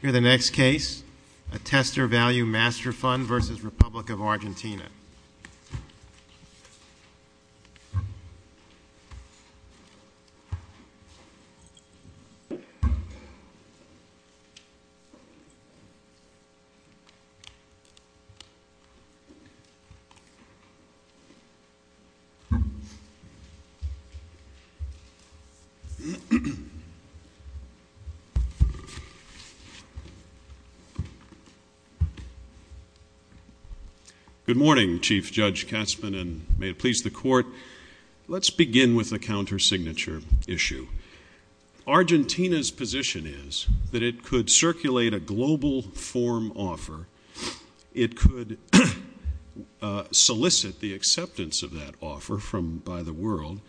Here's the next case, a Tester Value Master Fund v. Republic of Argentina. Good morning, Chief Judge Katzmann, and may it please the Court, let's begin with the counter-signature issue. Argentina's position is that it could circulate a global form offer, it could solicit the acceptance of that offer by the world,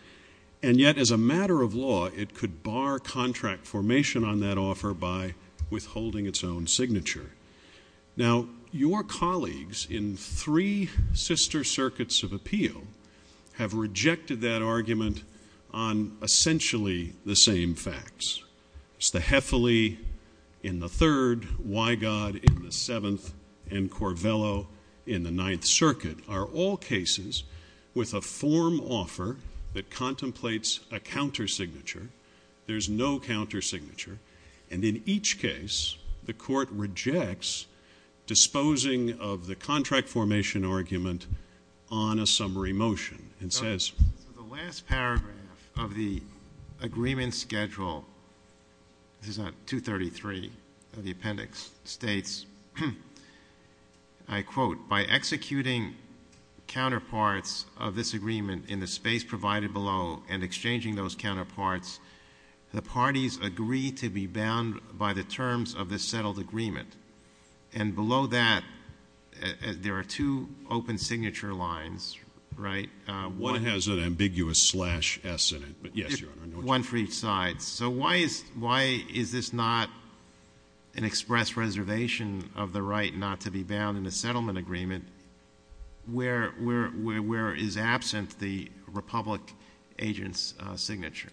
and yet as a matter of law, it could bar contract formation on that offer by withholding its own signature. Now, your colleagues in three sister circuits of appeal have rejected that argument on essentially the same facts. The Heffaly in the third, Wygod in the seventh, and Corvello in the eighth, there's no counter-signature, and in each case, the Court rejects disposing of the contract formation argument on a summary motion, and says... So the last paragraph of the agreement schedule, this is on 233 of the appendix, states, I quote, by executing counterparts of this agreement in the space provided below and exchanging those counterparts, the parties agree to be bound by the terms of this settled agreement. And below that, there are two open signature lines, right? One has an ambiguous slash S in it, but yes, Your Honor. One for each side. So why is this not an express reservation of the right not to be bound in a settlement agreement where, where, where, where is absent the Republic agent's signature?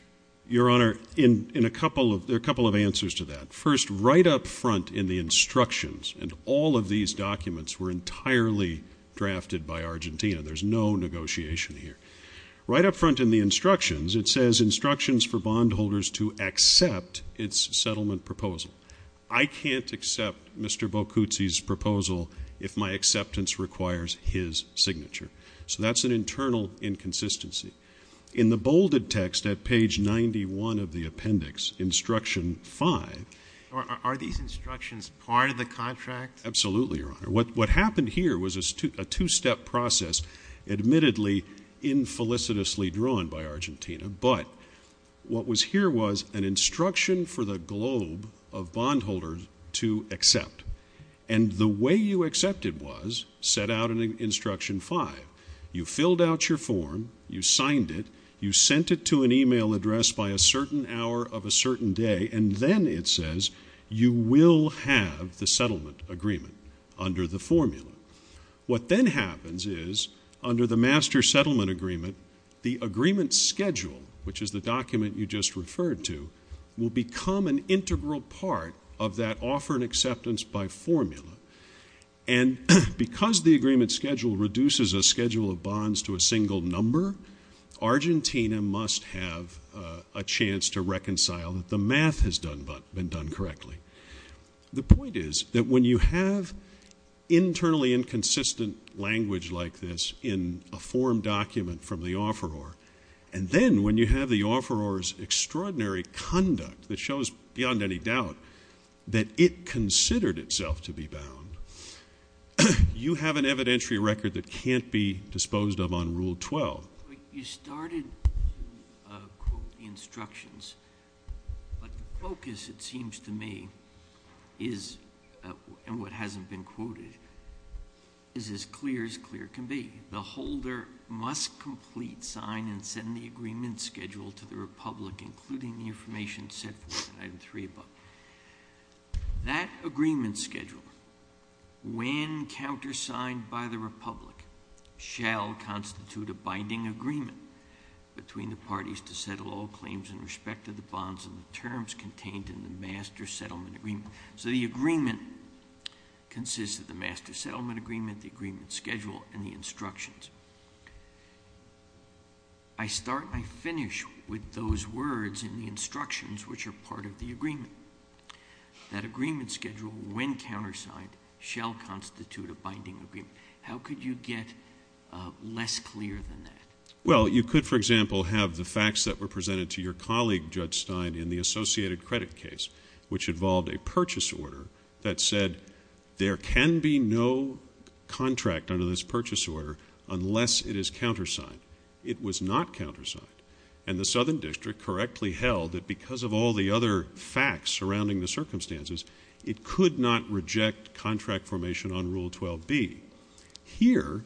Your Honor, in, in a couple of, there are a couple of answers to that. First, right up front in the instructions, and all of these documents were entirely drafted by Argentina. There's no negotiation here. Right up front in the instructions, it says, instructions for bondholders to accept its settlement proposal. I can't accept Mr. Boccuzzi's proposal if my acceptance requires his signature. So that's an internal inconsistency. In the bolded text at page 91 of the appendix, instruction five. Are these instructions part of the contract? Absolutely, Your Honor. What, what happened here was a two, a two-step process, admittedly infelicitously drawn by Argentina, but what was here was an instruction for the globe of bondholders to accept. And the way you accepted was, set out in instruction five, you filled out your form, you signed it, you sent it to an email address by a certain hour of a certain day, and then it says, you will have the settlement agreement under the formula. What then happens is, under the master settlement agreement, the agreement schedule, which is the document you just referred to, will become an integral part of that offer and acceptance by formula. And because the agreement schedule reduces a schedule of bonds to a single number, Argentina must have a chance to reconcile that the math has done, been done correctly. The point is that when you have internally inconsistent language like this in a form document from the offeror, and then when you have the offeror's extraordinary conduct that shows, beyond any doubt, that it considered itself to be bound, you have an evidentiary record that can't be disposed of on Rule 12. You started to quote the instructions, but the focus, it seems to me, is, and what hasn't been quoted, is as clear as clear can be. The holder must complete, sign, and send the agreement schedule to the Republic, including the information set forth in item three above. That agreement schedule, when countersigned by the Republic, shall constitute a binding agreement between the parties to settle all claims in respect to the bonds and the terms contained in the master settlement agreement. So the agreement consists of the master settlement agreement, the agreement schedule, and the instructions. I start, I finish with those words in the instructions which are part of the agreement. That agreement schedule, when countersigned, shall constitute a binding agreement. How could you get less clear than that? Well, you could, for example, have the facts that were presented to your colleague, Judge Stein, in the Associated Credit case, which involved a purchase order that said there can be no contract under this purchase order unless it is countersigned. It was not countersigned. And the Southern District correctly held that because of all the other facts surrounding the circumstances, it could not reject contract formation on Rule 12b. Here,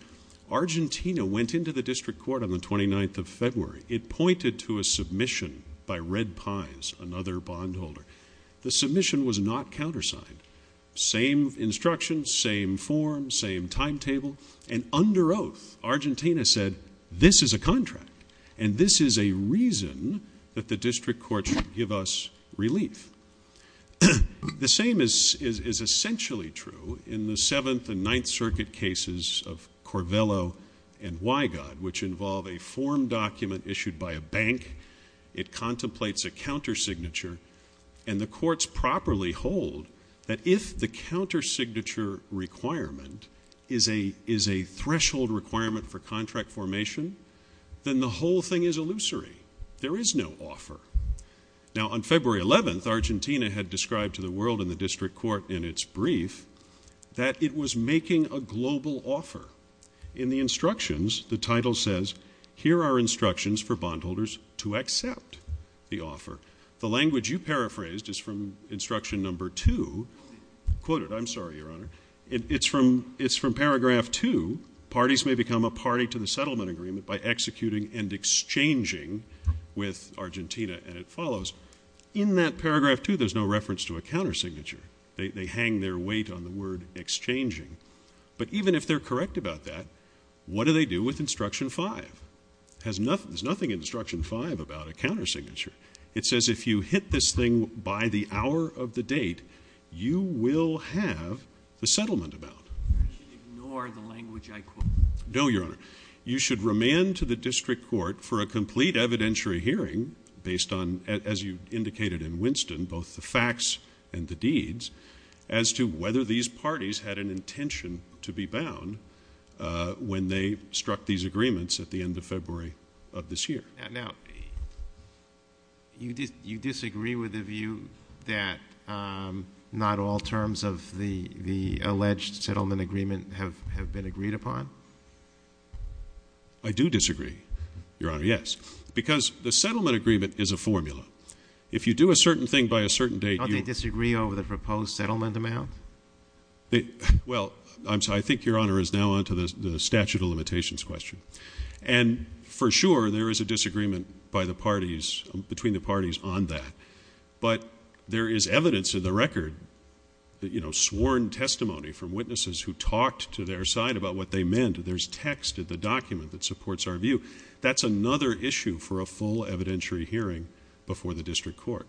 Argentina went into the District Court on the 29th of February. It pointed to a submission by Red Pies, another bondholder. The submission was not countersigned. Same instructions, same form, same timetable. And under oath, Argentina said, this is a contract, and this is a reason that the District Court should give us relief. The same is essentially true in the Seventh and Ninth Circuit cases of Corvello and Wygod, which involve a form document issued by a bank. It contemplates a countersignature. And the courts properly hold that if the countersignature requirement is a threshold requirement for contract formation, then the whole thing is illusory. There is no offer. Now on February 11th, Argentina had described to the world and the District Court in its title says, here are instructions for bondholders to accept the offer. The language you paraphrased is from instruction number two, quoted, I'm sorry, Your Honor. It's from paragraph two, parties may become a party to the settlement agreement by executing and exchanging with Argentina, and it follows. In that paragraph two, there's no reference to a countersignature. They hang their weight on the word exchanging. But even if they're correct about that, what do they do with instruction five? There's nothing in instruction five about a countersignature. It says if you hit this thing by the hour of the date, you will have the settlement about. You should ignore the language I quoted. No, Your Honor. You should remand to the District Court for a complete evidentiary hearing based on, as you indicated in Winston, both the facts and the deeds, as to whether these parties had an intention to be bound when they struck these agreements at the end of February of this year. Now, you disagree with the view that not all terms of the alleged settlement agreement have been agreed upon? I do disagree, Your Honor, yes. Because the settlement agreement is a formula. If you do a certain thing by a certain date, you Don't they disagree over the proposed settlement amount? Well, I think Your Honor is now on to the statute of limitations question. And for sure there is a disagreement by the parties, between the parties on that. But there is evidence in the record, you know, sworn testimony from witnesses who talked to their side about what they meant. There's text in the document that supports our view. That's another issue for a full evidentiary hearing before the District Court.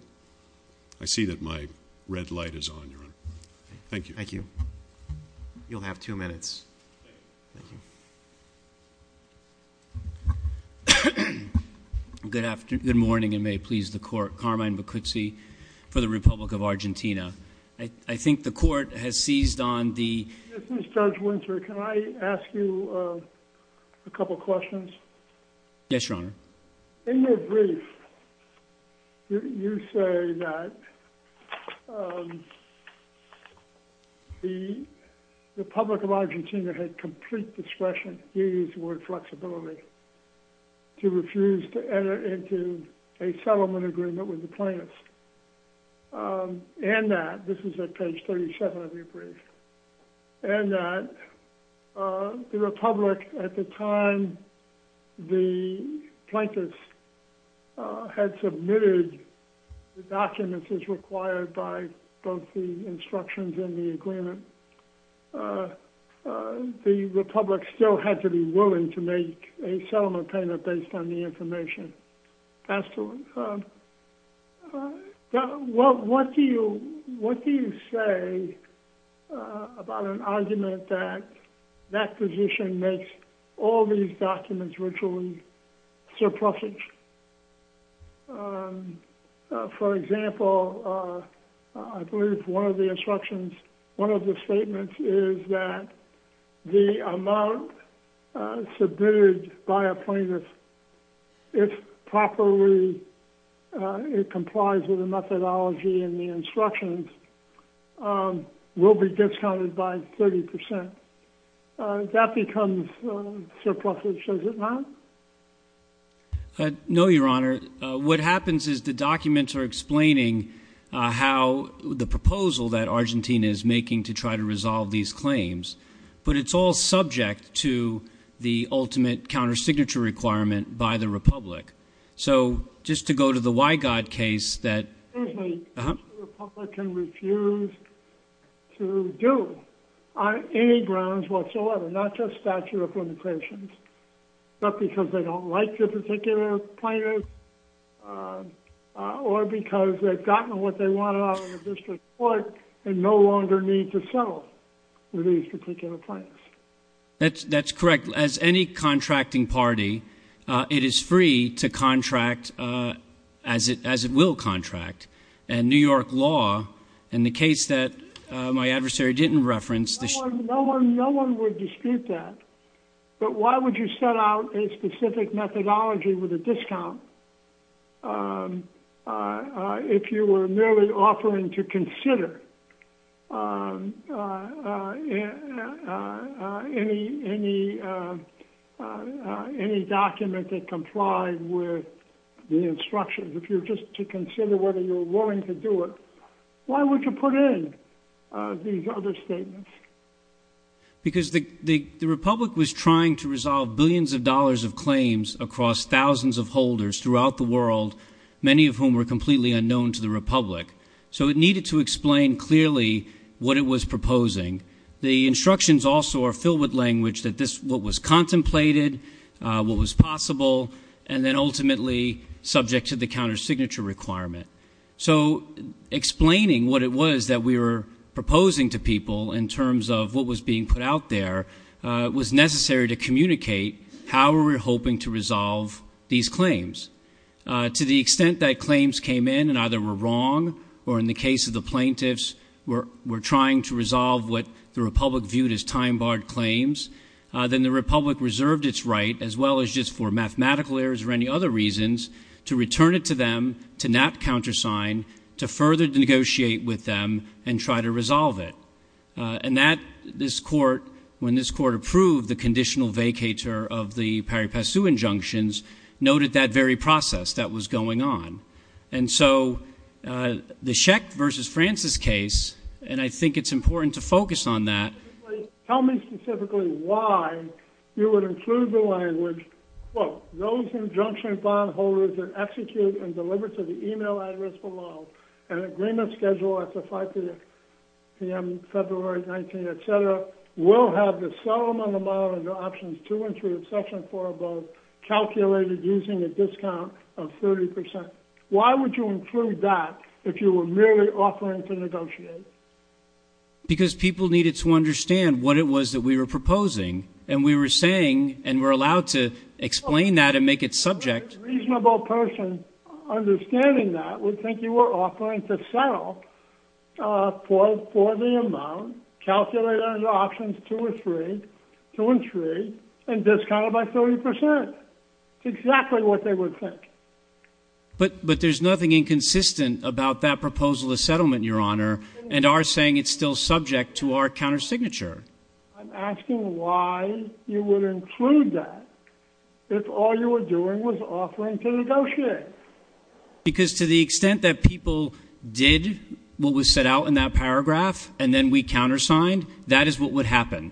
Thank you. Thank you. You'll have two minutes. Good morning, and may it please the Court. Carmine Bacuzzi for the Republic of Argentina. I think the Court has seized on the This is Judge Winter. Can I ask you a couple questions? Yes, Your Honor. In your brief, you say that the Republic of Argentina had complete discretion, use the word flexibility, to refuse to enter into a settlement agreement with the plaintiffs. And that, this is at page 37 of your brief, and that the Republic at the time the plaintiffs had submitted the documents as required by both the instructions and the agreement, the Republic still had to be willing to make a settlement payment based on the information. Absolutely. What do you say about an argument that that position makes all these documents virtually surplusage? For example, I believe one of the instructions, one of the statements is that the amount submitted by a plaintiff, if properly it complies with the methodology and the instructions, will be discounted by 30%. That becomes surplusage, does it not? No, Your Honor. What happens is the documents are explaining how the proposal that Argentina is making to try to resolve these claims, but it's all subject to the ultimate countersignature requirement by the Republic. So, just to go to the Wygod case that- Excuse me. The Republican refused to do on any grounds whatsoever, not just statute of limitations, not because they don't like the particular plaintiff, or because they've gotten what they wanted out of the district court and no longer need to settle with these particular plaintiffs. That's correct. As any contracting party, it is free to contract as it will contract. And New York law, in the case that my adversary didn't reference- No one would dispute that. But why would you set out a specific methodology with a discount if you were merely offering to consider any document that complied with the instructions? If you're just to consider whether you're willing to do it, why would you put in these other statements? Because the Republic was trying to resolve billions of dollars of claims across thousands of holders throughout the world, many of whom were completely unknown to the Republic. So it needed to explain clearly what it was proposing. The instructions also are filled with language that what was contemplated, what was possible, and then ultimately subject to the countersignature requirement. So explaining what it was that we were proposing to people in terms of what was being put out there was necessary to communicate how we were hoping to resolve these claims. To the extent that claims came in and either were wrong or, in the case of the plaintiffs, were trying to resolve what the Republic viewed as time-barred claims, then the Republic reserved its right, as well as just for mathematical errors or any other reasons, to return it to them to not countersign, to further negotiate with them and try to resolve it. And that, this Court, when this Court approved the conditional vacatur of the Pari Passu injunctions, noted that very process that was going on. And so, the Schecht v. Francis case, and I think it's important to focus on that. Tell me specifically why you would include the language, quote, those injunction bondholders are executed and delivered to the email address below an agreement scheduled at the 5 p.m. February 19th, et cetera, will have the settlement amount under Options 2 and 3 of Section 4 above calculated using a discount of 30%. Why would you include that if you were merely offering to negotiate? Because people needed to understand what it was that we were proposing and we were saying, and we're allowed to explain that and make it subject. A reasonable person understanding that would think you were offering to settle for the amount calculated under Options 2 and 3 and discounted by 30%. It's exactly what they would think. But there's nothing inconsistent about that proposal of settlement, Your Honor, and are saying it's still subject to our countersignature. I'm asking why you would include that if all you were doing was offering to negotiate. Because to the extent that people did what was set out in that paragraph and then we countersigned, that is what would happen.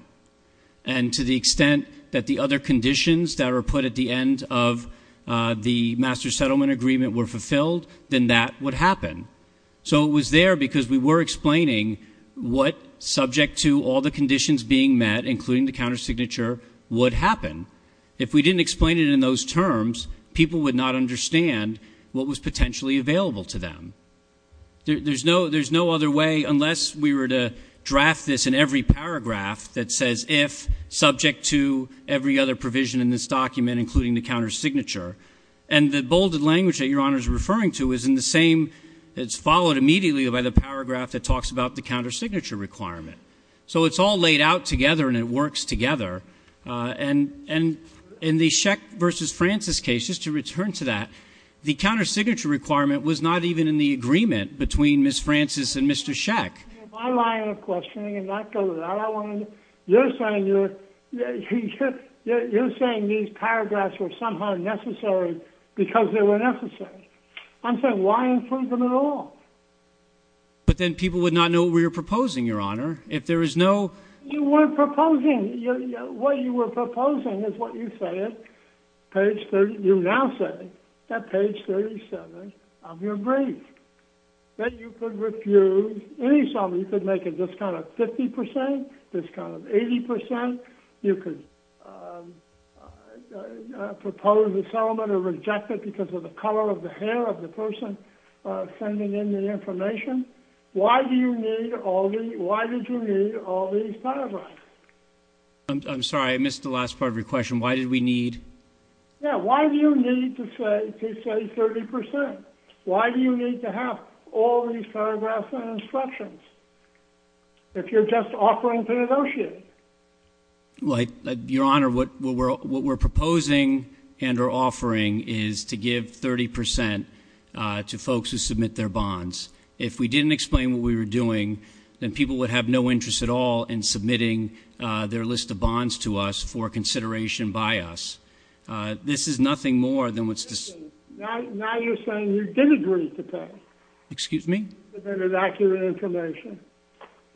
And to the extent that the other conditions that were put at the end of the master settlement agreement were fulfilled, then that would happen. So it was there because we were explaining what, subject to all the conditions being met, including the countersignature, would happen. If we didn't explain it in those terms, people would not understand what was potentially available to them. There's no other way, unless we were to draft this in every paragraph that says if subject to every other provision in this document, including the countersignature. And the bolded language that Your Honor is referring to is in the same, it's followed immediately by the paragraph that talks about the countersignature requirement. So it's all laid out together and it works together. And in the Scheck versus Francis case, just to return to that, the countersignature requirement was not even in the agreement between Ms. Francis and Mr. Scheck. My line of questioning, and that goes out, you're saying these paragraphs were somehow necessary because they were necessary. I'm saying why include them at all? But then people would not know what we were proposing, Your Honor, if there is no... You were proposing, what you were proposing is what you say at page 30, you now say at page 37 of your brief. That you could refuse any settlement. You could make a discount of 50%, discount of 80%. You could propose a settlement or reject it because of the color of the hair of the person sending in the information. Why do you need all these... Why did you need all these paragraphs? I'm sorry, I missed the last part of your question. Why did we need... Yeah, why do you need to say 30%? Why do you need to have all these paragraphs and instructions if you're just offering to negotiate? Your Honor, what we're proposing and we're offering is to give 30% to folks who submit their bonds. If we didn't explain what we were doing, then people would have no interest at all in submitting their list of bonds to us for consideration by us. This is nothing more than what's... Now you're saying you did agree to pay. Excuse me? With inaccurate information.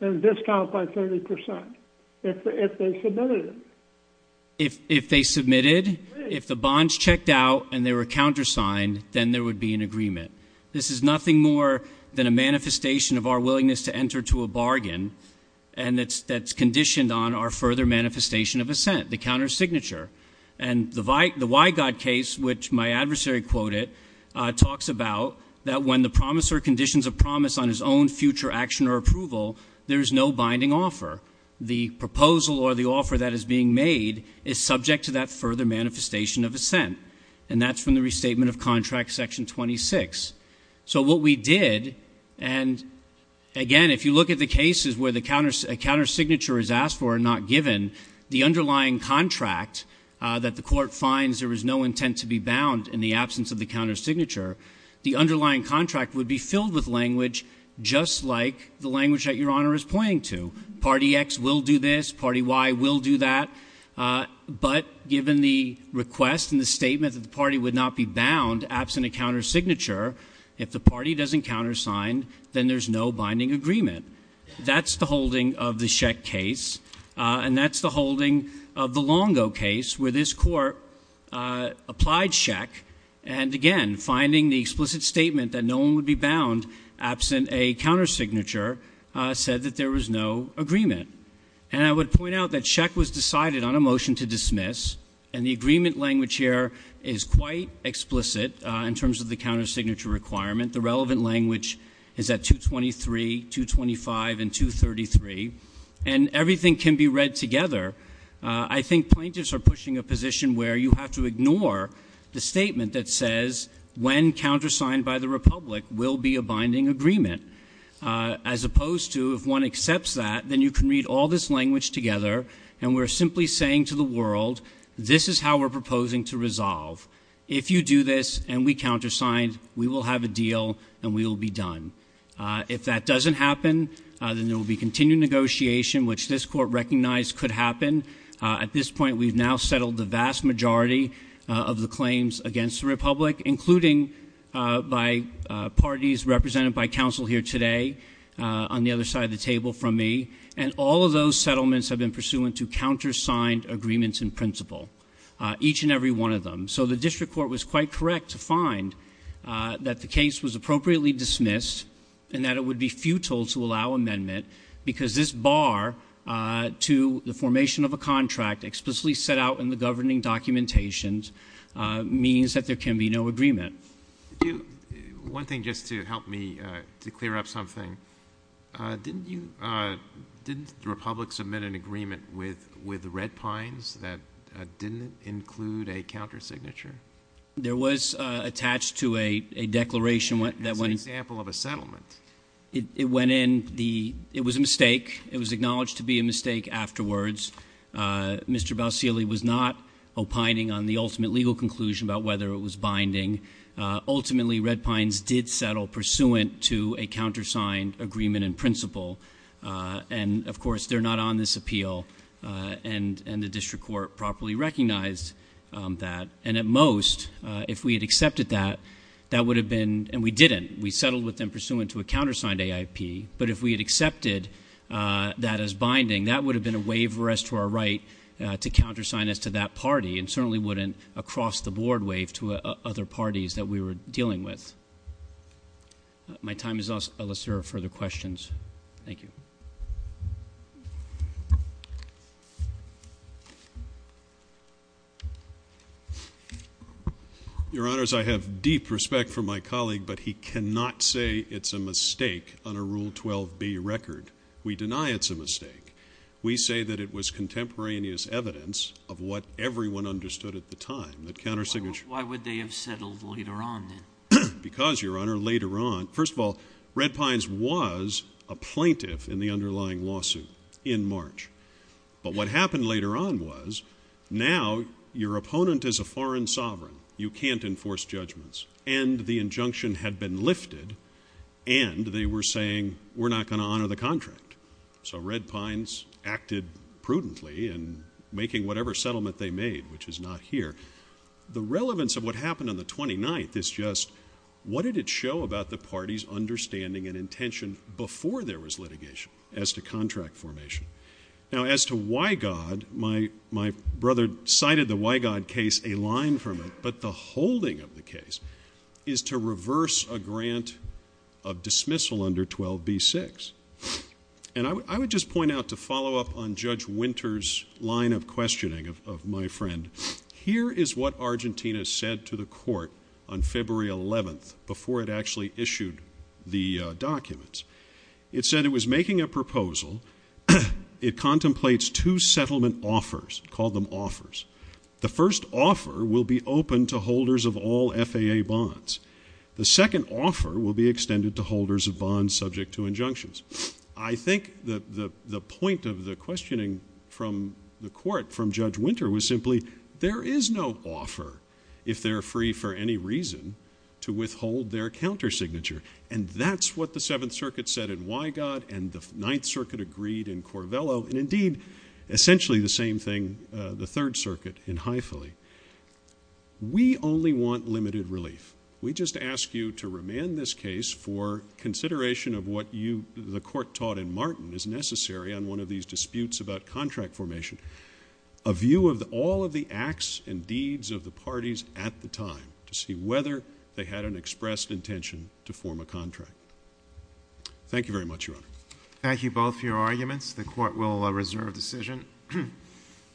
And a discount by 30% if they submitted it. If they submitted, if the bonds checked out and they were countersigned, then there would be an agreement. This is nothing more than a manifestation of our willingness to enter to a bargain and that's conditioned on our further manifestation of assent, the countersignature. And the Wygod case, which my adversary quoted, talks about that when the promisor conditions a promise on his own future action or approval, there is no binding offer. The proposal or the offer that is being made is subject to that further manifestation of assent. And that's from the Restatement of Contract, Section 26. So what we did, and again, if you look at the cases where a countersignature is asked for and not given, the underlying contract that the court finds there is no intent to be bound in the absence of the countersignature, the underlying contract would be filled with language just like the language that Your Honor is pointing to. Party X will do this. Party Y will do that. But given the request and the statement that the party would not be bound absent a countersignature, if the party doesn't countersign, then there's no binding agreement. That's the holding of the Schecht case. And that's the holding of the Longo case where this court applied Schecht, and again, finding the explicit statement that no one would be bound absent a countersignature, said that there was no agreement. And I would point out that Schecht was decided on a motion to dismiss, and the agreement language here is quite explicit in terms of the countersignature requirement. The relevant language is at 223, 225, and 233. And everything can be read together. I think plaintiffs are pushing a position where you have to ignore the statement that says when countersigned by the Republic will be a binding agreement, as opposed to if one accepts that, then you can read all this language together, and we're simply saying to the world, this is how we're proposing to resolve. If you do this and we countersigned, we will have a deal, and we will be done. If that doesn't happen, then there will be continued negotiation, which this court recognized could happen. At this point, we've now settled the vast majority of the claims against the Republic, including by parties represented by counsel here today on the other side of the table from me. And all of those settlements have been pursuant to countersigned agreements in principle, each and every one of them. So the district court was quite correct to find that the case was appropriately dismissed and that it would be futile to allow amendment because this bar to the formation of a contract explicitly set out in the governing documentation means that there can be no agreement. One thing, just to help me to clear up something, didn't the Republic submit an agreement with Red Pines that didn't include a countersignature? There was attached to a declaration that went in... That's an example of a settlement. It went in. It was a mistake. It was acknowledged to be a mistake afterwards. Mr. Bausili was not opining on the ultimate legal conclusion about whether it was binding. Ultimately, Red Pines did settle pursuant to a countersigned agreement in principle. And, of course, they're not on this appeal, and the district court properly recognized that. And at most, if we had accepted that, that would have been... And we didn't. We settled with them pursuant to a countersigned AIP. But if we had accepted that as binding, that would have been a waiver as to our right to countersign as to that party and certainly wouldn't a cross-the-board waive to other parties that we were dealing with. My time is up unless there are further questions. Thank you. Your Honours, I have deep respect for my colleague, but he cannot say it's a mistake on a Rule 12b record. We deny it's a mistake. We say that it was contemporaneous evidence of what everyone understood at the time, that countersignature... Why would they have settled later on, then? Because, Your Honour, later on... First of all, Red Pines was a plaintiff in the underlying lawsuit in March. But what happened later on was now your opponent is a foreign sovereign. You can't enforce judgments. And the injunction had been lifted. And they were saying, we're not going to honour the contract. So Red Pines acted prudently in making whatever settlement they made, which is not here. The relevance of what happened on the 29th is just what did it show about the party's understanding and intention before there was litigation as to contract formation? Now, as to why, God, my brother cited the Wygod case, a line from it, but the holding of the case is to reverse a grant of dismissal under 12b-6. And I would just point out to follow up on Judge Winter's line of questioning of my friend, here is what Argentina said to the court on February 11th before it actually issued the documents. It said it was making a proposal, it contemplates two settlement offers, called them offers. The first offer will be open to holders of all FAA bonds. The second offer will be extended to holders of bonds subject to injunctions. I think the point of the questioning from the court, from Judge Winter, was simply there is no offer if they're free for any reason to withhold their counter signature. And that's what the Seventh Circuit said in Wygod and the Ninth Circuit agreed in Corvello and indeed essentially the same thing the Third Circuit in High Philly. We only want limited relief. We just ask you to remand this case for consideration of what you, the court taught in Martin, is necessary on one of these disputes about contract formation. A view of all of the acts and deeds of the parties at the time to see whether they had an expressed intention to form a contract. Thank you very much, Your Honor. Thank you both for your arguments. The court will reserve decision.